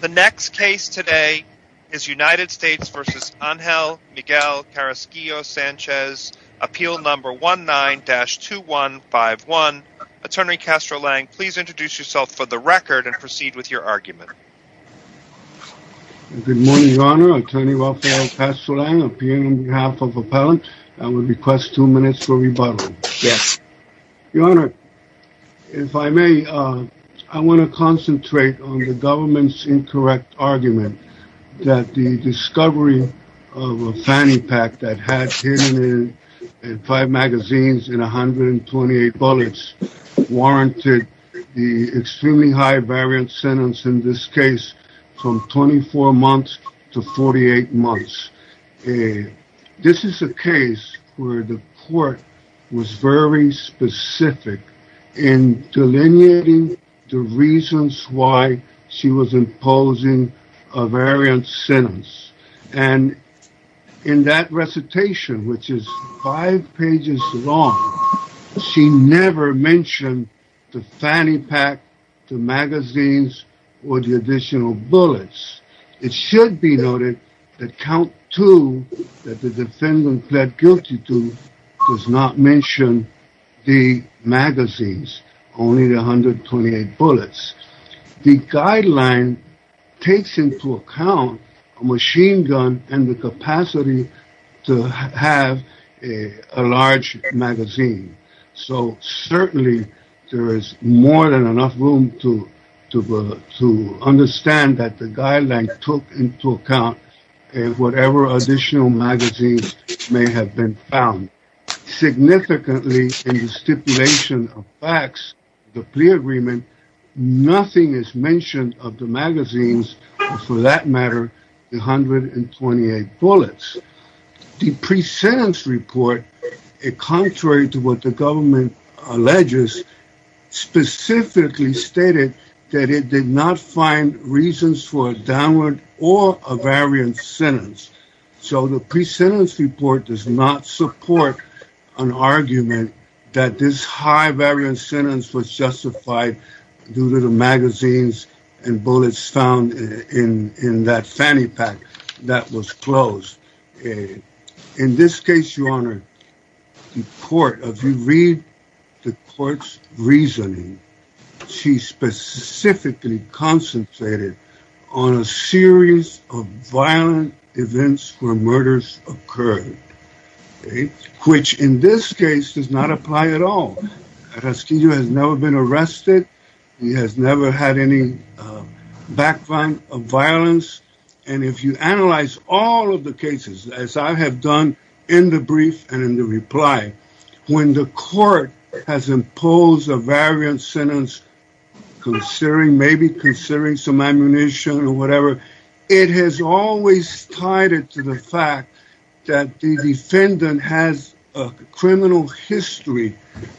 The next case today is United States v. Angel Miguel Carrasquillo-Sanchez, appeal number 19-2151. Attorney Castro-Lang, please introduce yourself for the record and proceed with your argument. Good morning, Your Honor. Attorney Rafael Castro-Lang, appearing on behalf of appellant. I would request two minutes for rebuttal. Your Honor, if I may, I want to concentrate on the government's incorrect argument that the discovery of a fanny pack that had hidden in five magazines and 128 bullets warranted the extremely high-variance sentence in this case from 24 months to 48 months. This is a case where the court was very specific in delineating the reasons why she was imposing a variance sentence, and in that recitation, which is five pages long, she never mentioned the fanny pack, the magazines, or the additional bullets. It should be noted that count two that the defendant pled guilty to does not mention the magazines, only the 128 bullets. The guideline takes into account a machine gun and the capacity to have a large magazine, so certainly there is more than enough room to understand that the guideline took into account whatever additional magazines may have been found. Significantly, in the stipulation of facts, the plea agreement, nothing is mentioned of the magazines, or for that matter, the 128 bullets. The pre-sentence report, contrary to what the government alleges, specifically stated that it did not find reasons for a downward or a variance sentence, so the pre-sentence report does not support an argument that this high-variance sentence was justified due to the magazines and bullets found in that fanny pack that was closed. In this case, Your Honor, the court, if you read the court's reasoning, she specifically concentrated on a series of violent events where murders occurred, which in this case does not apply at all. Rasquillo has never been arrested. He has never had any background of violence, and if you analyze all of the cases, as I have done in the brief and in the reply, when the court has imposed a variance sentence, maybe considering some ammunition or whatever, it has always tied it to the fact that the defendant has a criminal history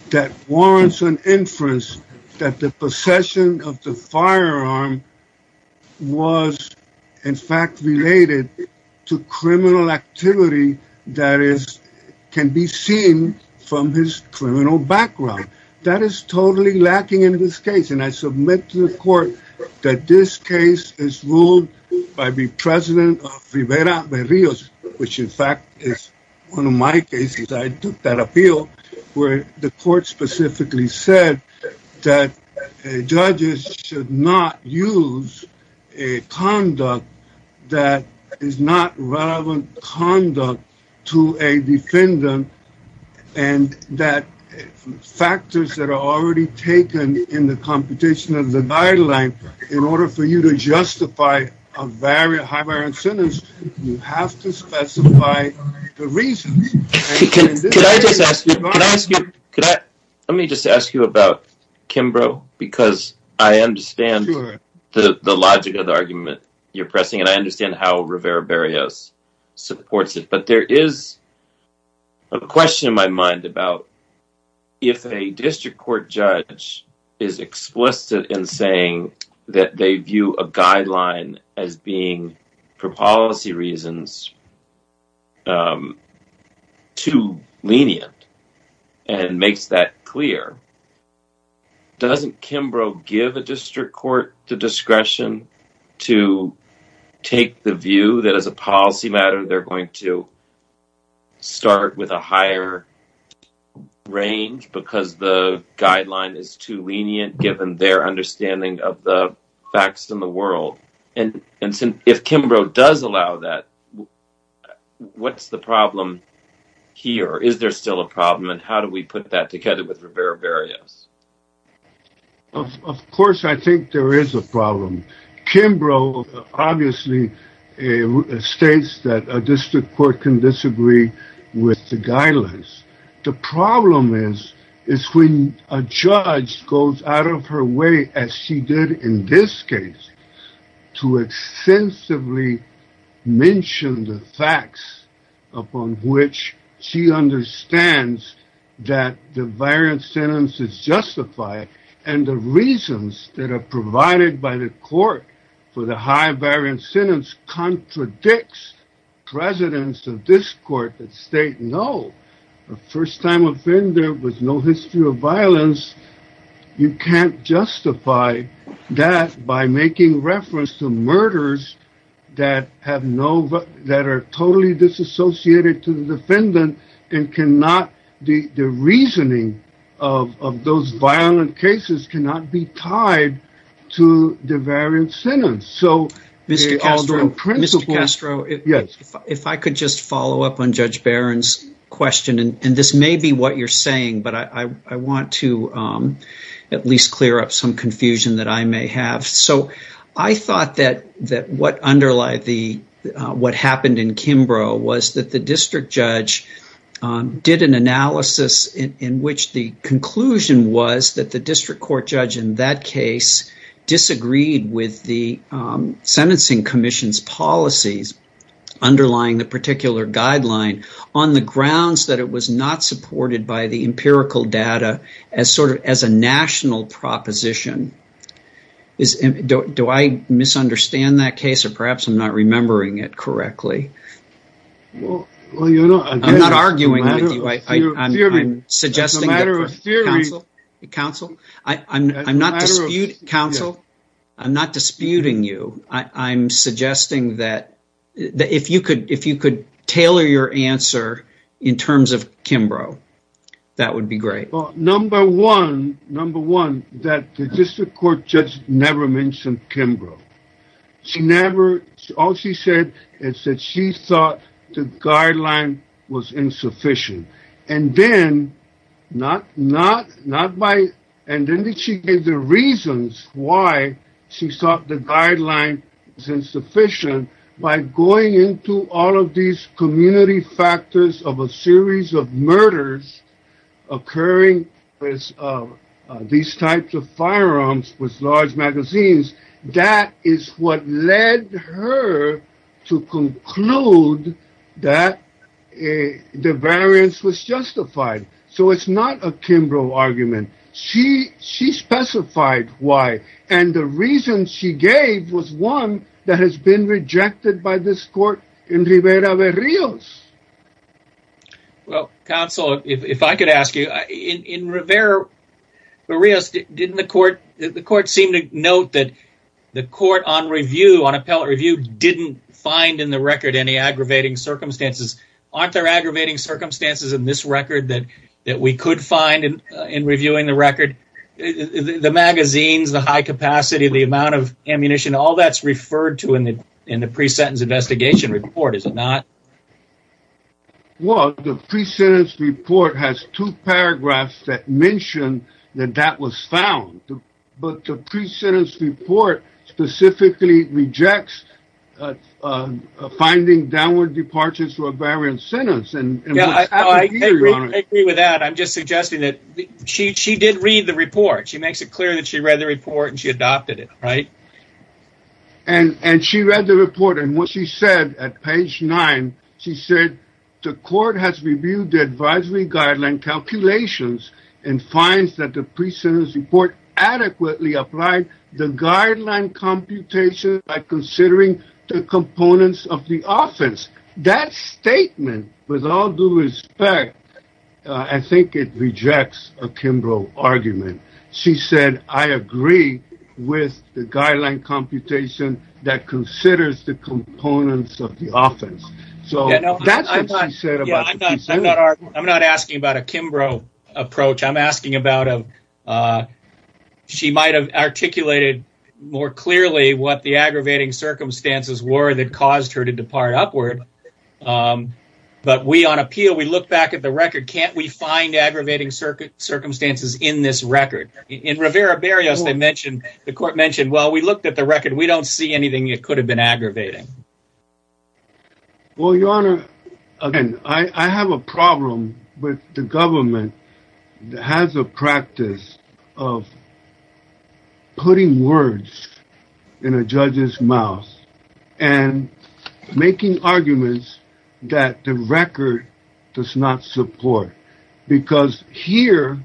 that warrants an inference that the possession of the firearm was in fact related to criminal activity that can be seen from his criminal background. That is totally lacking in this case, and I submit to the court that this case is ruled by the president of Rivera de Rios, which in fact is one of my cases. I took that appeal where the court specifically said that judges should not use a conduct that is not relevant conduct to a defendant, and that factors that are already taken in the competition of the guideline, in order for you to justify a Kimbrough, because I understand the logic of the argument you're pressing, and I understand how Rivera de Rios supports it, but there is a question in my mind about if a district court judge is explicit in saying that they view a guideline as being, for policy reasons, too lenient, and makes that clear, doesn't Kimbrough give a district court the discretion to take the view that as a policy matter, they're going to start with a higher range, because the guideline is too lenient, given their understanding of the facts in the world, and if Kimbrough does allow that, what's the problem here? Is there still a problem, and how do we put that together with Rivera de Rios? Of course, I think there is a problem. Kimbrough obviously states that a district court can disagree with the guidelines. The problem is when a judge goes out of her way, as she did in this case, to extensively mention the facts upon which she understands that the variant sentence is justified, and the reasons that are provided by the court for the high variant sentence contradicts presidents of this court that state, no, a first-time offender with no history of violence, you can't justify that by making reference to murders that are totally disassociated to the defendant, and the reasoning of those violent cases cannot be tied to the variant sentence. Mr. Castro, if I could just this may be what you're saying, but I want to at least clear up some confusion that I may have. I thought that what happened in Kimbrough was that the district judge did an analysis in which the conclusion was that the district court judge in that case disagreed with the supported by the empirical data as a national proposition. Do I misunderstand that case, or perhaps I'm not remembering it correctly? I'm not arguing with you. I'm not disputing you. I'm suggesting that if you could tailor your answer in terms of Kimbrough, that would be great. Number one, that the district court judge never mentioned Kimbrough. All she said is that she thought the guideline was insufficient, and then she gave the reasons why she thought the guideline was insufficient by going into all of these community factors of a series of murders occurring with these types of firearms with large magazines. That is what led her to conclude that the variance was justified, so it's not a Kimbrough argument. She specified why, and the reason she gave was one that has been rejected by this court in Rivera-Barrios. Well, counsel, if I could ask you, in Rivera-Barrios, didn't the court seem to note that the court on review, on appellate review, didn't find in the record any aggravating circumstances? Aren't there aggravating circumstances in this record that we could find in reviewing the record? The magazines, the high capacity, the amount of in the pre-sentence investigation report, is it not? Well, the pre-sentence report has two paragraphs that mention that that was found, but the pre-sentence report specifically rejects finding downward departures to a variant sentence. I agree with that. I'm just suggesting that she did read the report. She makes it clear that she read the report and she adopted it, right? And she read the report, and what she said at page nine, she said, the court has reviewed the advisory guideline calculations and finds that the pre-sentence report adequately applied the guideline computation by considering the components of the offense. That statement, with all due respect, I'm not asking about a Kimbrough approach, I'm asking about, she might have articulated more clearly what the aggravating circumstances were that caused her to depart upward, but we on appeal, we look back at the record, can't we find aggravating circumstances in this record? In Rivera Berrios, they mentioned, the court mentioned, well, we looked at the record, we don't see anything that could have been aggravating. Well, your honor, again, I have a problem with the government that has a practice of putting words in a judge's mouth and making arguments that the record does not support, because here,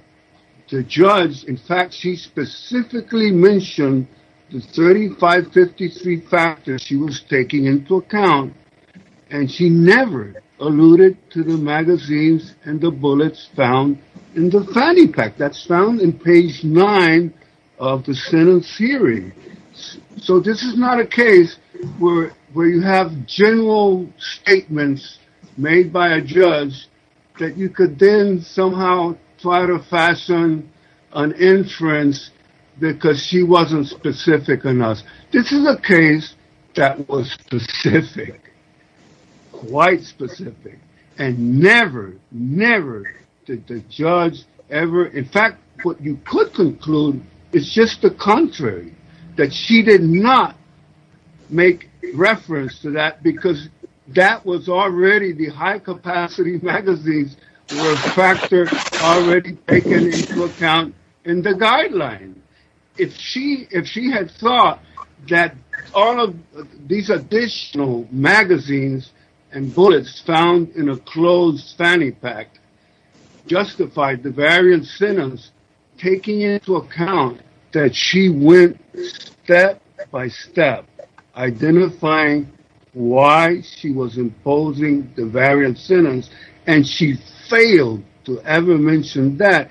the judge, in fact, she specifically mentioned the 3553 factors she was taking into account, and she never alluded to the magazines and the bullets found in the fanny pack. That's found in page nine of the sentence theory. So, this is not a case where you have general statements made by a judge that you could then somehow try to fashion an inference because she wasn't specific enough. This is a case that was specific, quite specific, and never, never did the judge ever, in fact, what you could conclude is just the contrary, that she did not make reference to that because that was already the high-capacity magazines were a factor already taken into account in the guideline. If she had thought that all of these additional magazines and bullets found in a closed fanny pack justified the step-by-step identifying why she was imposing the variant sentence, and she failed to ever mention that,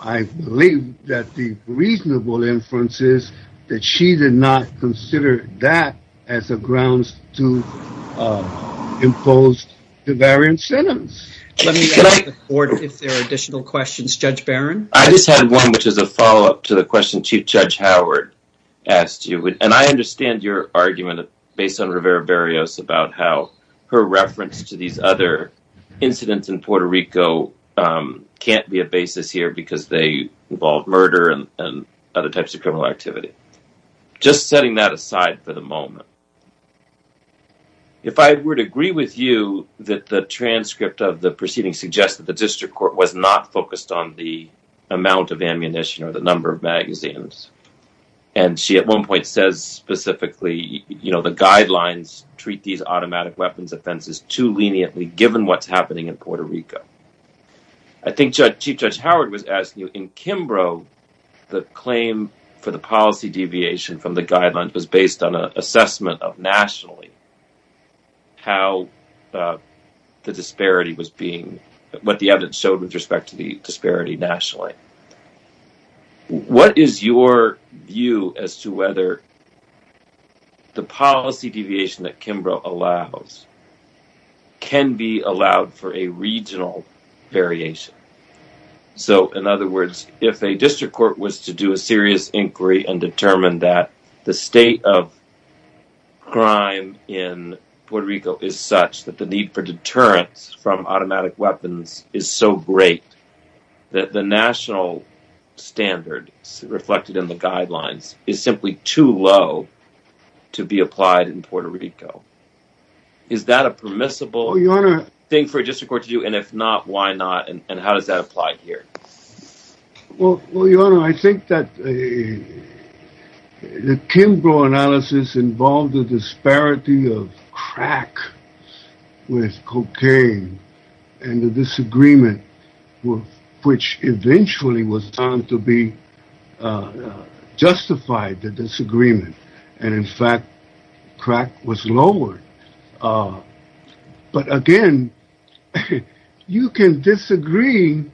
I believe that the reasonable inference is that she did not consider that as a grounds to impose the variant sentence. Let me ask the court if there are additional questions. I understand your argument based on Rivera Berrios about how her reference to these other incidents in Puerto Rico can't be a basis here because they involve murder and other types of criminal activity. Just setting that aside for the moment, if I were to agree with you that the transcript of the proceedings suggests that the district court was not focused on the amount of and she at one point says specifically, you know, the guidelines treat these automatic weapons offenses too leniently given what's happening in Puerto Rico. I think Chief Judge Howard was asking you, in Kimbrough the claim for the policy deviation from the guidelines was based on an assessment of nationally how the disparity was being, what the evidence showed with respect to disparity nationally. What is your view as to whether the policy deviation that Kimbrough allows can be allowed for a regional variation? So in other words, if a district court was to do a serious inquiry and determine that the state of crime in Puerto Rico is such that the need for deterrence from automatic weapons is so great that the national standard reflected in the guidelines is simply too low to be applied in Puerto Rico. Is that a permissible thing for a district court to do and if not, why not and how does that apply here? Well, your honor, I think that the Kimbrough analysis involved the disparity of crack with cocaine and the disagreement which eventually was found to be justified the disagreement and in fact crack was lowered. But again, you can disagree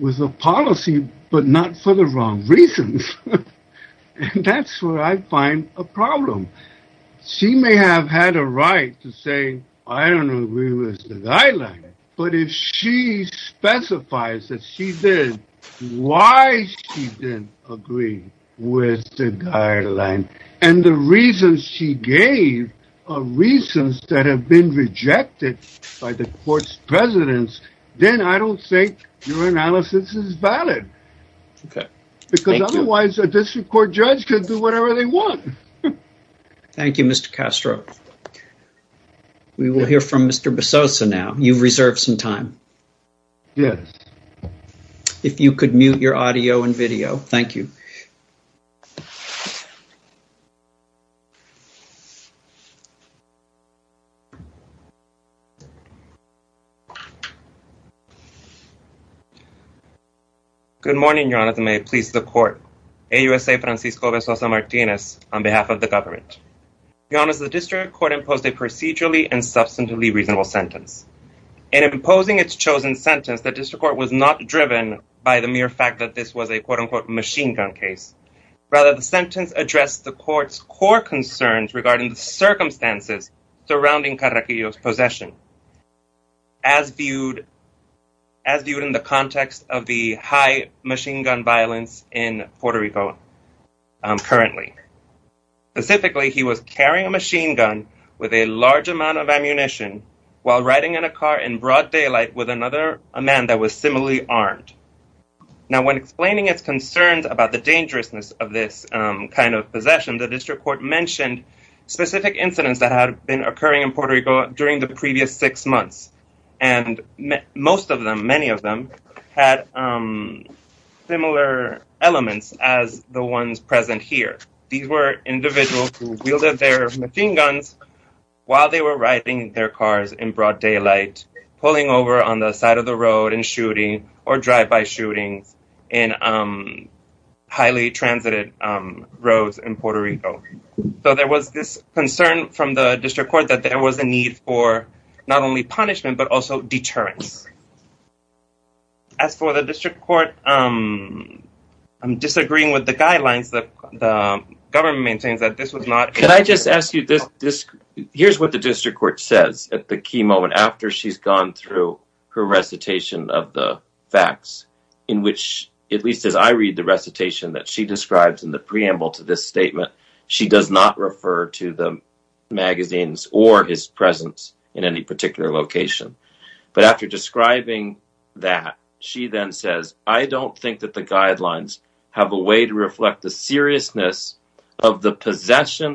with the policy but not for the wrong reasons and that's where I find a problem. She may have had a right to say I don't agree with the guideline but if she specifies that she did, why she didn't agree with the guideline and the reasons she gave are reasons that have been rejected by the court's presidents, then I don't think your analysis is valid because otherwise a district court judge could do whatever they want. Thank you, Mr. Castro. We will hear from Mr. Besosa now. You've reserved some time. Yes. If you could mute your audio and video. Thank you. Good morning, your honor. May it please the court. AUSA Francisco Besosa Martinez on behalf of the government. Your honor, the district court imposed a procedurally and substantively reasonable sentence. In imposing its chosen sentence, the district court was not driven by the mere fact that this was a quote-unquote machine gun case. Rather, the sentence addressed the court's core concerns regarding the circumstances surrounding Carraquillo's possession as viewed as viewed in the context of the high machine gun violence in Puerto Rico currently. Specifically, he was carrying a machine gun with a large amount of ammunition while riding in a car in broad daylight with another man that was similarly armed. Now, when explaining its concerns about the dangerousness of this kind of possession, the district court mentioned specific incidents that had been occurring in Puerto Rico during the previous six months. And most of them, many of them, had similar elements as the ones present here. These were individuals who wielded their machine guns while they were riding their cars in broad daylight, pulling over on the side of the road and shooting or drive-by shootings in highly transited roads in Puerto Rico. So there was this concern from the district court that there was a need for not only punishment but also deterrence. As for the district court, I'm disagreeing with the guidelines that the government maintains that this was not… Can I just ask you, here's what the district court says at the key moment after she's gone through her recitation of the facts, in which, at least as I read the recitation that she describes in the preamble to this statement, she does not refer to the magazines or his presence in any particular location. But after describing that, she then says, I don't think that the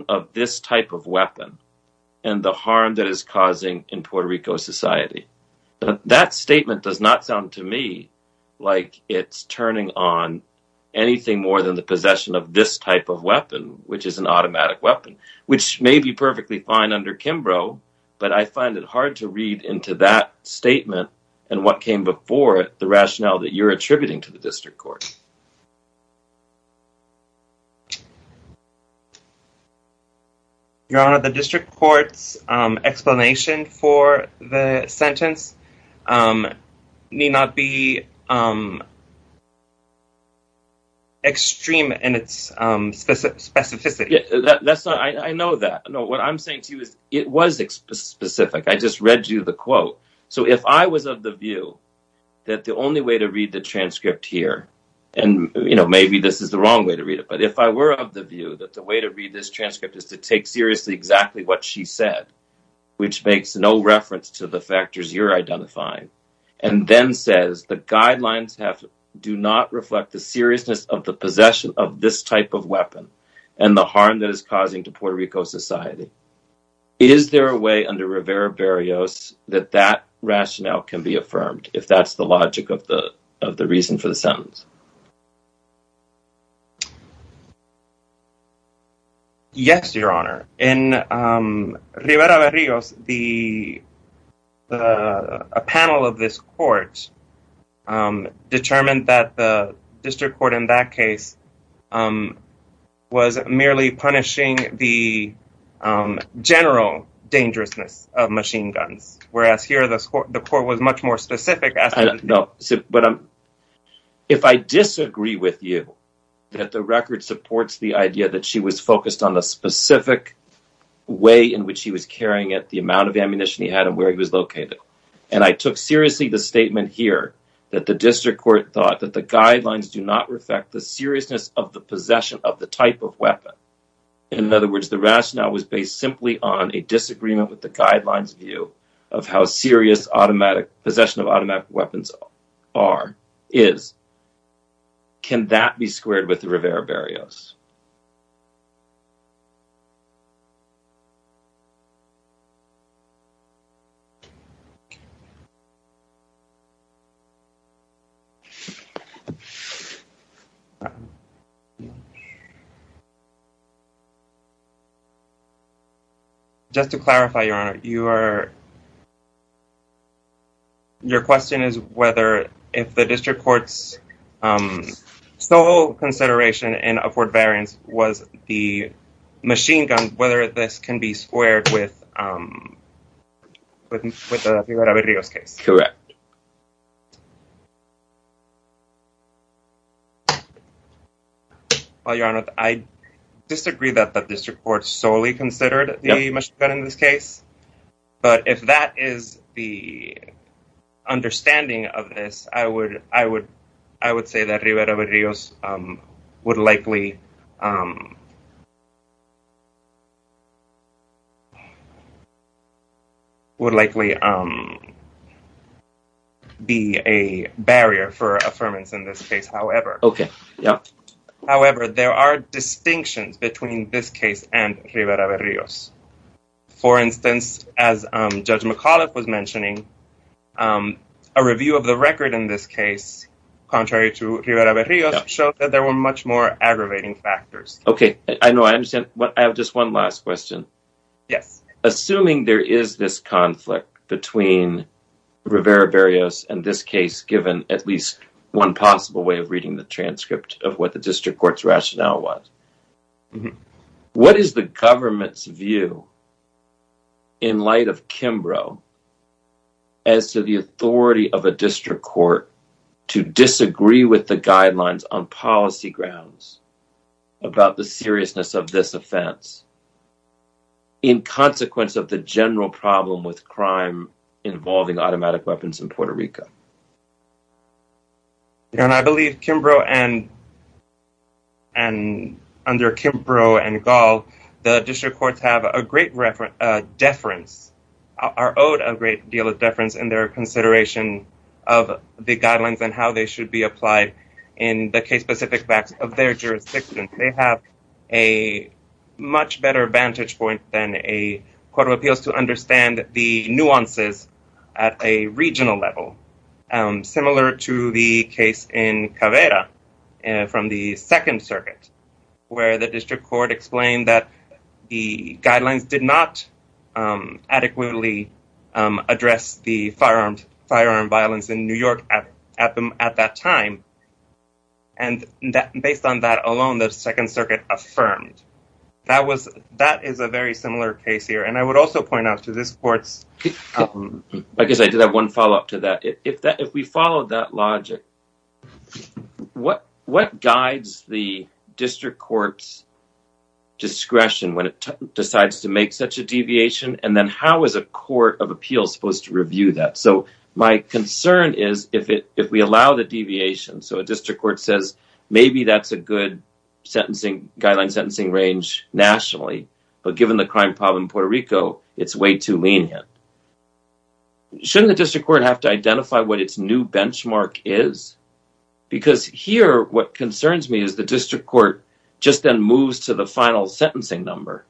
of this type of weapon and the harm that it's causing in Puerto Rico society. That statement does not sound to me like it's turning on anything more than the possession of this type of weapon, which is an automatic weapon, which may be perfectly fine under Kimbrough, but I find it hard to read into that statement and what came before it the rationale that you're Your Honor, the district court's explanation for the sentence may not be extreme in its specificity. Yeah, that's not… I know that. No, what I'm saying to you is it was specific. I just read you the quote. So, if I was of the view that the only way to read the transcript here, and, you know, maybe this is the wrong way to read it, but if I were of the view that the way to read this transcript is to take seriously exactly what she said, which makes no reference to the factors you're identifying, and then says the guidelines do not reflect the seriousness of the possession of this type of weapon and the harm that is causing to Puerto Rico society, is there a way under Rivera Berrios that that rationale can be affirmed, if that's the logic of the reason for the sentence? Yes, Your Honor. In Rivera Berrios, a panel of this court determined that the district court in that case was merely punishing the general dangerousness of machine guns, whereas here the court was much more specific. I don't know. If I disagree with you that the record supports the idea that she was focused on a specific way in which he was carrying it, the amount of ammunition he had, and where he was located, and I took seriously the statement here that the district court thought that the guidelines do not reflect the seriousness of the possession of the type of weapon, in other words, the rationale was based simply on a disagreement with the guidelines view of how serious automatic possession of automatic weapons are, is, can that be squared with the Rivera Berrios? Just to clarify, Your Honor, your question is whether if the district court's sole consideration in Upward Variance was the machine gun, whether this can be squared with the Rivera Berrios case? Correct. Well, Your Honor, I disagree that the district court solely considered the machine gun in this case. However, there are distinctions between this case and Rivera Berrios. For instance, as Judge McAuliffe was mentioning, a review of the record in this case, contrary to Rivera Berrios, showed that there were much more aggravating factors. I have just one last question. Assuming there is this conflict between Rivera Berrios and this case, given at least one possible way of reading the transcript of what the district court's rationale was, what is the government's view in light of Kimbrough as to the authority of a district court to disagree with the guidelines on policy grounds about the seriousness of this offense in consequence of the general problem with crime involving automatic weapons in Puerto Rico? Your Honor, I believe Kimbrough and under Kimbrough and Gall, the district courts have a great reference, deference, are owed a great deal of deference in their consideration of the guidelines and how they should be applied in the case-specific facts of their jurisdiction. They have a much better vantage point than a court of appeals to understand the nuances at a regional level, similar to the case in Caveira from the Second Circuit, where the district court explained that the guidelines did not adequately address the firearm violence in New York at that time, and based on that alone, the Second Circuit affirmed. That is a very similar case here, and I would also point out to this court's... I guess I did have one follow-up to that. If we follow that logic, what guides the district court's discretion when it decides to make such a deviation, and then how is a court of appeals supposed to review that? So my concern is if we allow the deviation, so a district court says maybe that's a good guideline sentencing range nationally, but given the crime problem in Puerto Rico, it's way too lenient. Shouldn't the district court have to identify what its new benchmark is? Because here, what concerns me is the district court just then moves to the final sentencing number,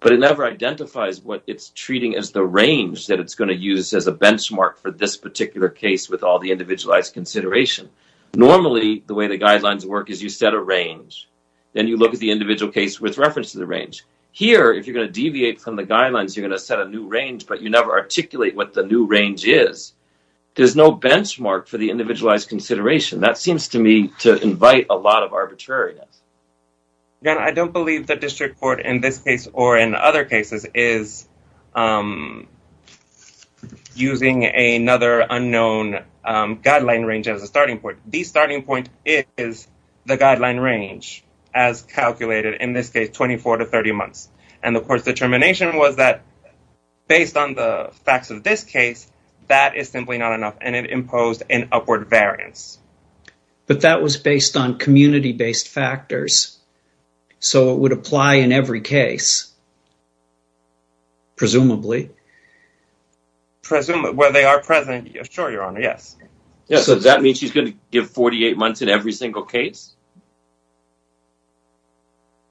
but it never identifies what it's treating as the range that it's going to use as a benchmark for this particular case with all the individualized consideration. Normally, the way the guidelines work is you set a range, then you look at the individual case with reference to the range. Here, if you're going to deviate from the guidelines, you're going to set a new range, but you never articulate what the new range is. There's no benchmark for the individualized consideration. That seems to me to invite a lot of arbitrariness. I don't believe the district court in this case or in other cases is using another unknown guideline range as a starting point. The starting point is the guideline range as calculated in this case, 24 to 30 months. The court's determination was that based on the facts of this case, that is simply not enough, and it imposed an upward variance. That was based on community-based factors, so it would apply in every case, presumably. Presumably. Well, they are present. Sure, Your Honor, yes. Yes, so that means she's going to give 48 months in every single case?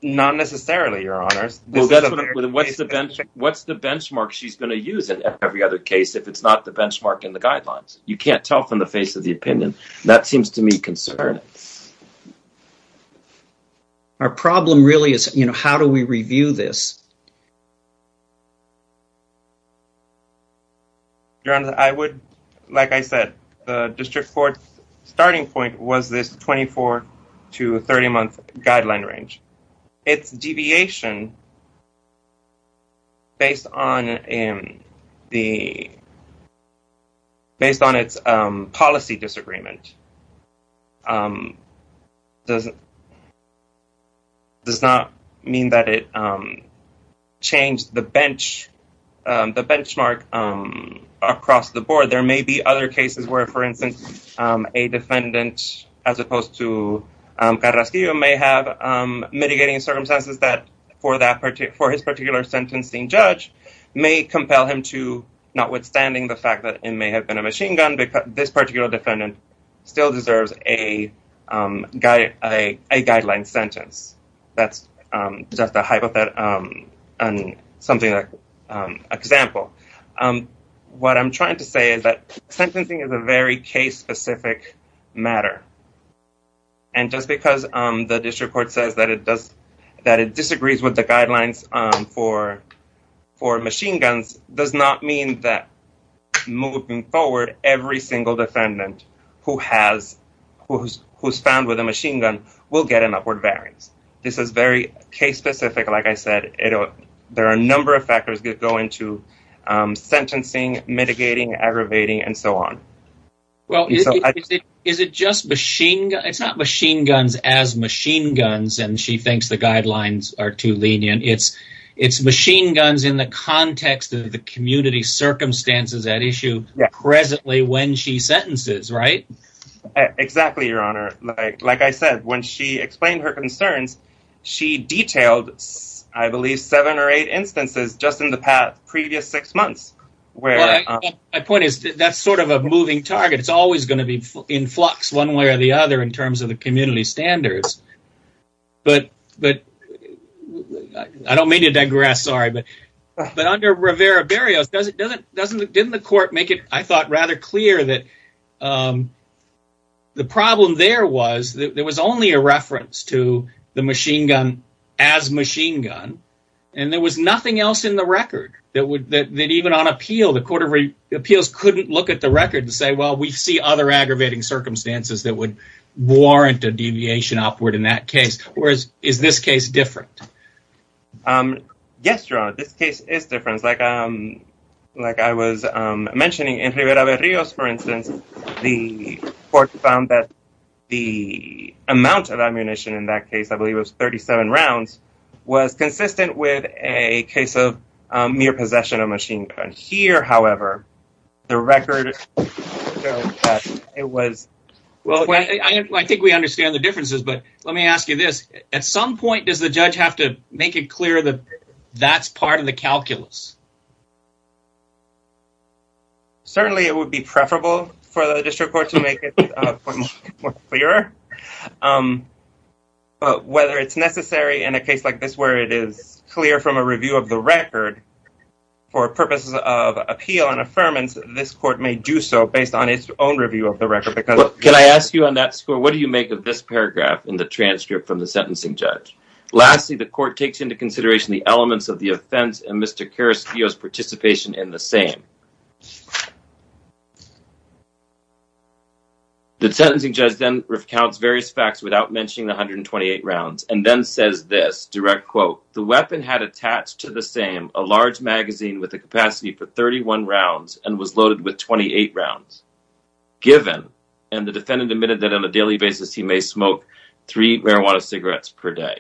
Not necessarily, Your Honors. What's the benchmark she's going to use in every other case if it's not the benchmark in the guidelines? You can't tell from the face of the opinion. That seems to me concerning. Our problem really is, you know, how do we review this? Your Honor, I would, like I said, the district court's starting point was this 24 to 30 month guideline range. Its deviation based on its policy disagreement does not mean that it changed the benchmark across the board. There may be other cases where, for instance, a defendant, as opposed to Carrasquillo, may have mitigating circumstances that, for his particular sentencing judge, may compel him to, notwithstanding the fact that it may have been a machine gun, this particular defendant still deserves a guideline sentence. That's just a hypothetical example. What I'm trying to say is that sentencing is a very case-specific matter. And just because the district court says that it disagrees with the guidelines for machine guns does not mean that moving forward, every single defendant who's found with a machine gun will get an upward variance. This is very case-specific, like I said. There are a number of factors that go into sentencing, mitigating, aggravating, and so on. Well, is it just machine guns? It's not machine guns as machine guns and she thinks the guidelines are too lenient. It's machine guns in the context of the community circumstances at issue presently when she sentences, right? Exactly, Your Honor. Like I said, when she explained her concerns, she detailed, I believe, seven or eight instances just in the past previous six months. Well, my point is that's sort of a moving target. It's always going to be in flux one way or the other in terms of the community standards. I don't mean to digress, sorry, but under Rivera Berrios, didn't the court make it, I thought, rather clear that the problem there was that there was only a reference to machine gun as machine gun and there was nothing else in the record that even on appeal, the Court of Appeals couldn't look at the record and say, well, we see other aggravating circumstances that would warrant a deviation upward in that case, whereas is this case different? Yes, Your Honor, this case is different. Like I was mentioning, in Rivera Berrios, for instance, the court found that the amount of ammunition in that case, I believe it was 37 rounds, was consistent with a case of mere possession of machine gun. Here, however, the record it was... Well, I think we understand the differences, but let me ask you this. At some point, does the judge have to make it clear that that's part of the calculus? Certainly, it would be preferable for the district court to make it clearer, but whether it's necessary in a case like this where it is clear from a review of the record for purposes of appeal and affirmance, this court may do so based on its own review of the record. Well, can I ask you on that score, what do you make of this paragraph in the transcript from the sentencing judge? Lastly, the court takes into consideration the elements of the participation in the same. The sentencing judge then recounts various facts without mentioning the 128 rounds and then says this, direct quote, the weapon had attached to the same, a large magazine with a capacity for 31 rounds and was loaded with 28 rounds, given, and the defendant admitted that on a daily basis, he may smoke three marijuana cigarettes per day.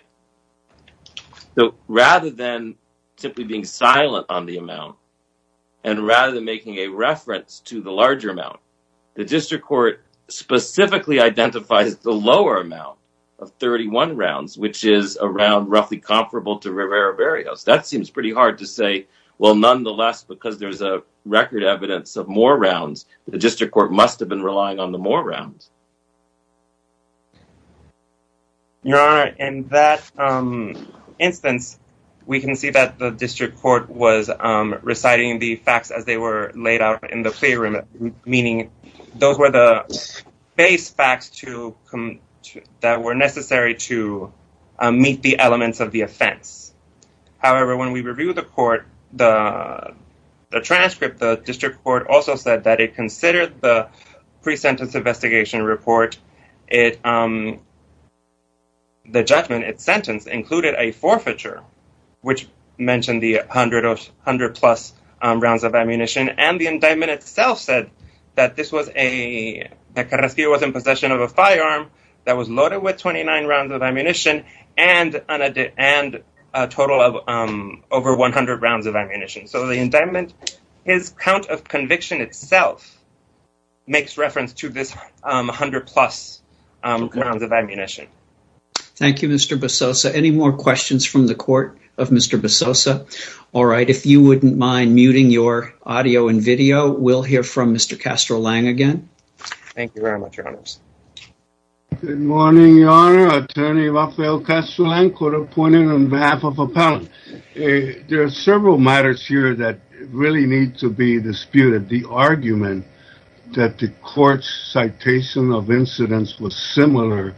So rather than simply being silent on the amount and rather than making a reference to the larger amount, the district court specifically identifies the lower amount of 31 rounds, which is around roughly comparable to Rivera-Barrios. That seems pretty hard to say. Well, nonetheless, because there's a record evidence of more rounds, the district court must have been relying on the more rounds. Your Honor, in that instance, we can see that the district court was reciting the facts as they were laid out in the playroom, meaning those were the base facts that were necessary to meet the elements of the offense. However, when we review the court, the transcript, the district court also said that the pre-sentence investigation report, the judgment, its sentence included a forfeiture, which mentioned the 100 plus rounds of ammunition, and the indictment itself said that Carrasquillo was in possession of a firearm that was loaded with 29 rounds of ammunition and a total of over 100 rounds of ammunition. So the indictment, his count of conviction itself makes reference to this 100 plus rounds of ammunition. Thank you, Mr. Basosa. Any more questions from the court of Mr. Basosa? All right, if you wouldn't mind muting your audio and video, we'll hear from Mr. Castro-Lang again. Thank you very much, Your Honors. Good morning, Your Honor. Attorney Rafael Castro-Lang, court appointed on behalf of appellant. There are several matters here that really need to be disputed. The argument that the court's citation of incidents was similar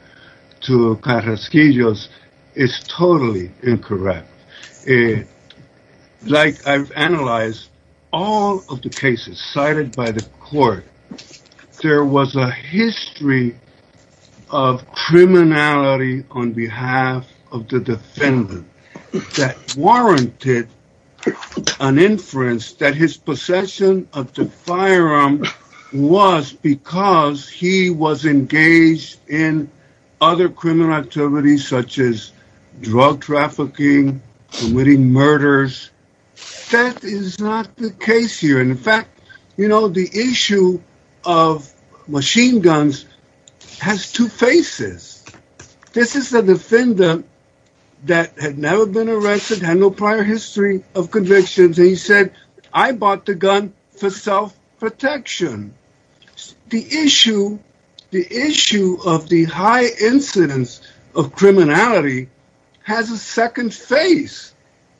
to Carrasquillo's is totally incorrect. Like I've analyzed all of the cases cited by the court, there was a history of criminality on behalf of the defendant that warranted an inference that his possession of the firearm was because he was engaged in other criminal activities such as drug trafficking, committing murders. That is not the case here. In fact, you know, the issue of machine guns has two faces. This is the defendant that had never been arrested, had no prior history of convictions, and he said, I bought the gun for self-protection. The issue of the high incidence of criminality has a second face,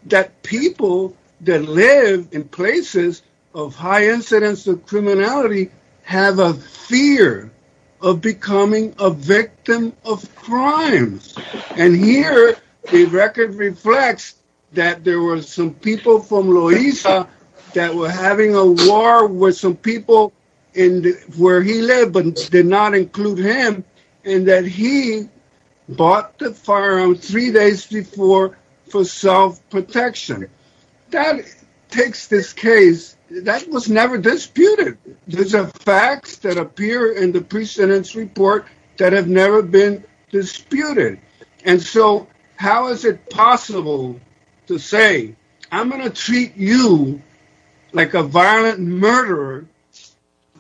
that people that live in places of high incidence of criminality have a fear of becoming a victim of crimes. And here, the record reflects that there were some people from Loiza that were having a war with some people where he lived but did not include him, and that he bought the firearm three days before for self-protection. That takes this case, that was never disputed. Those are facts that appear in the precedence report that have never been disputed. And so how is it possible to say, I'm going to treat you like a violent murderer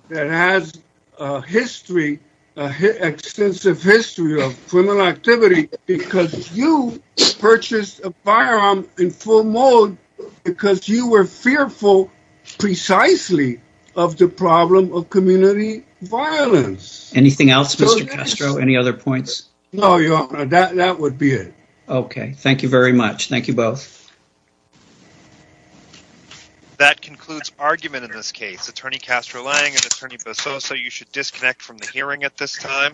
that has a history, an extensive history of criminal activity because you purchased a firearm in full mode because you were fearful precisely of the problem of community violence? Anything else, Mr. Castro? Any other points? No, Your Honor, that would be it. Okay, thank you very much. Thank you both. Thank you. That concludes argument in this case. Attorney Castro Lange and Attorney Basoso, you should disconnect from the hearing at this time.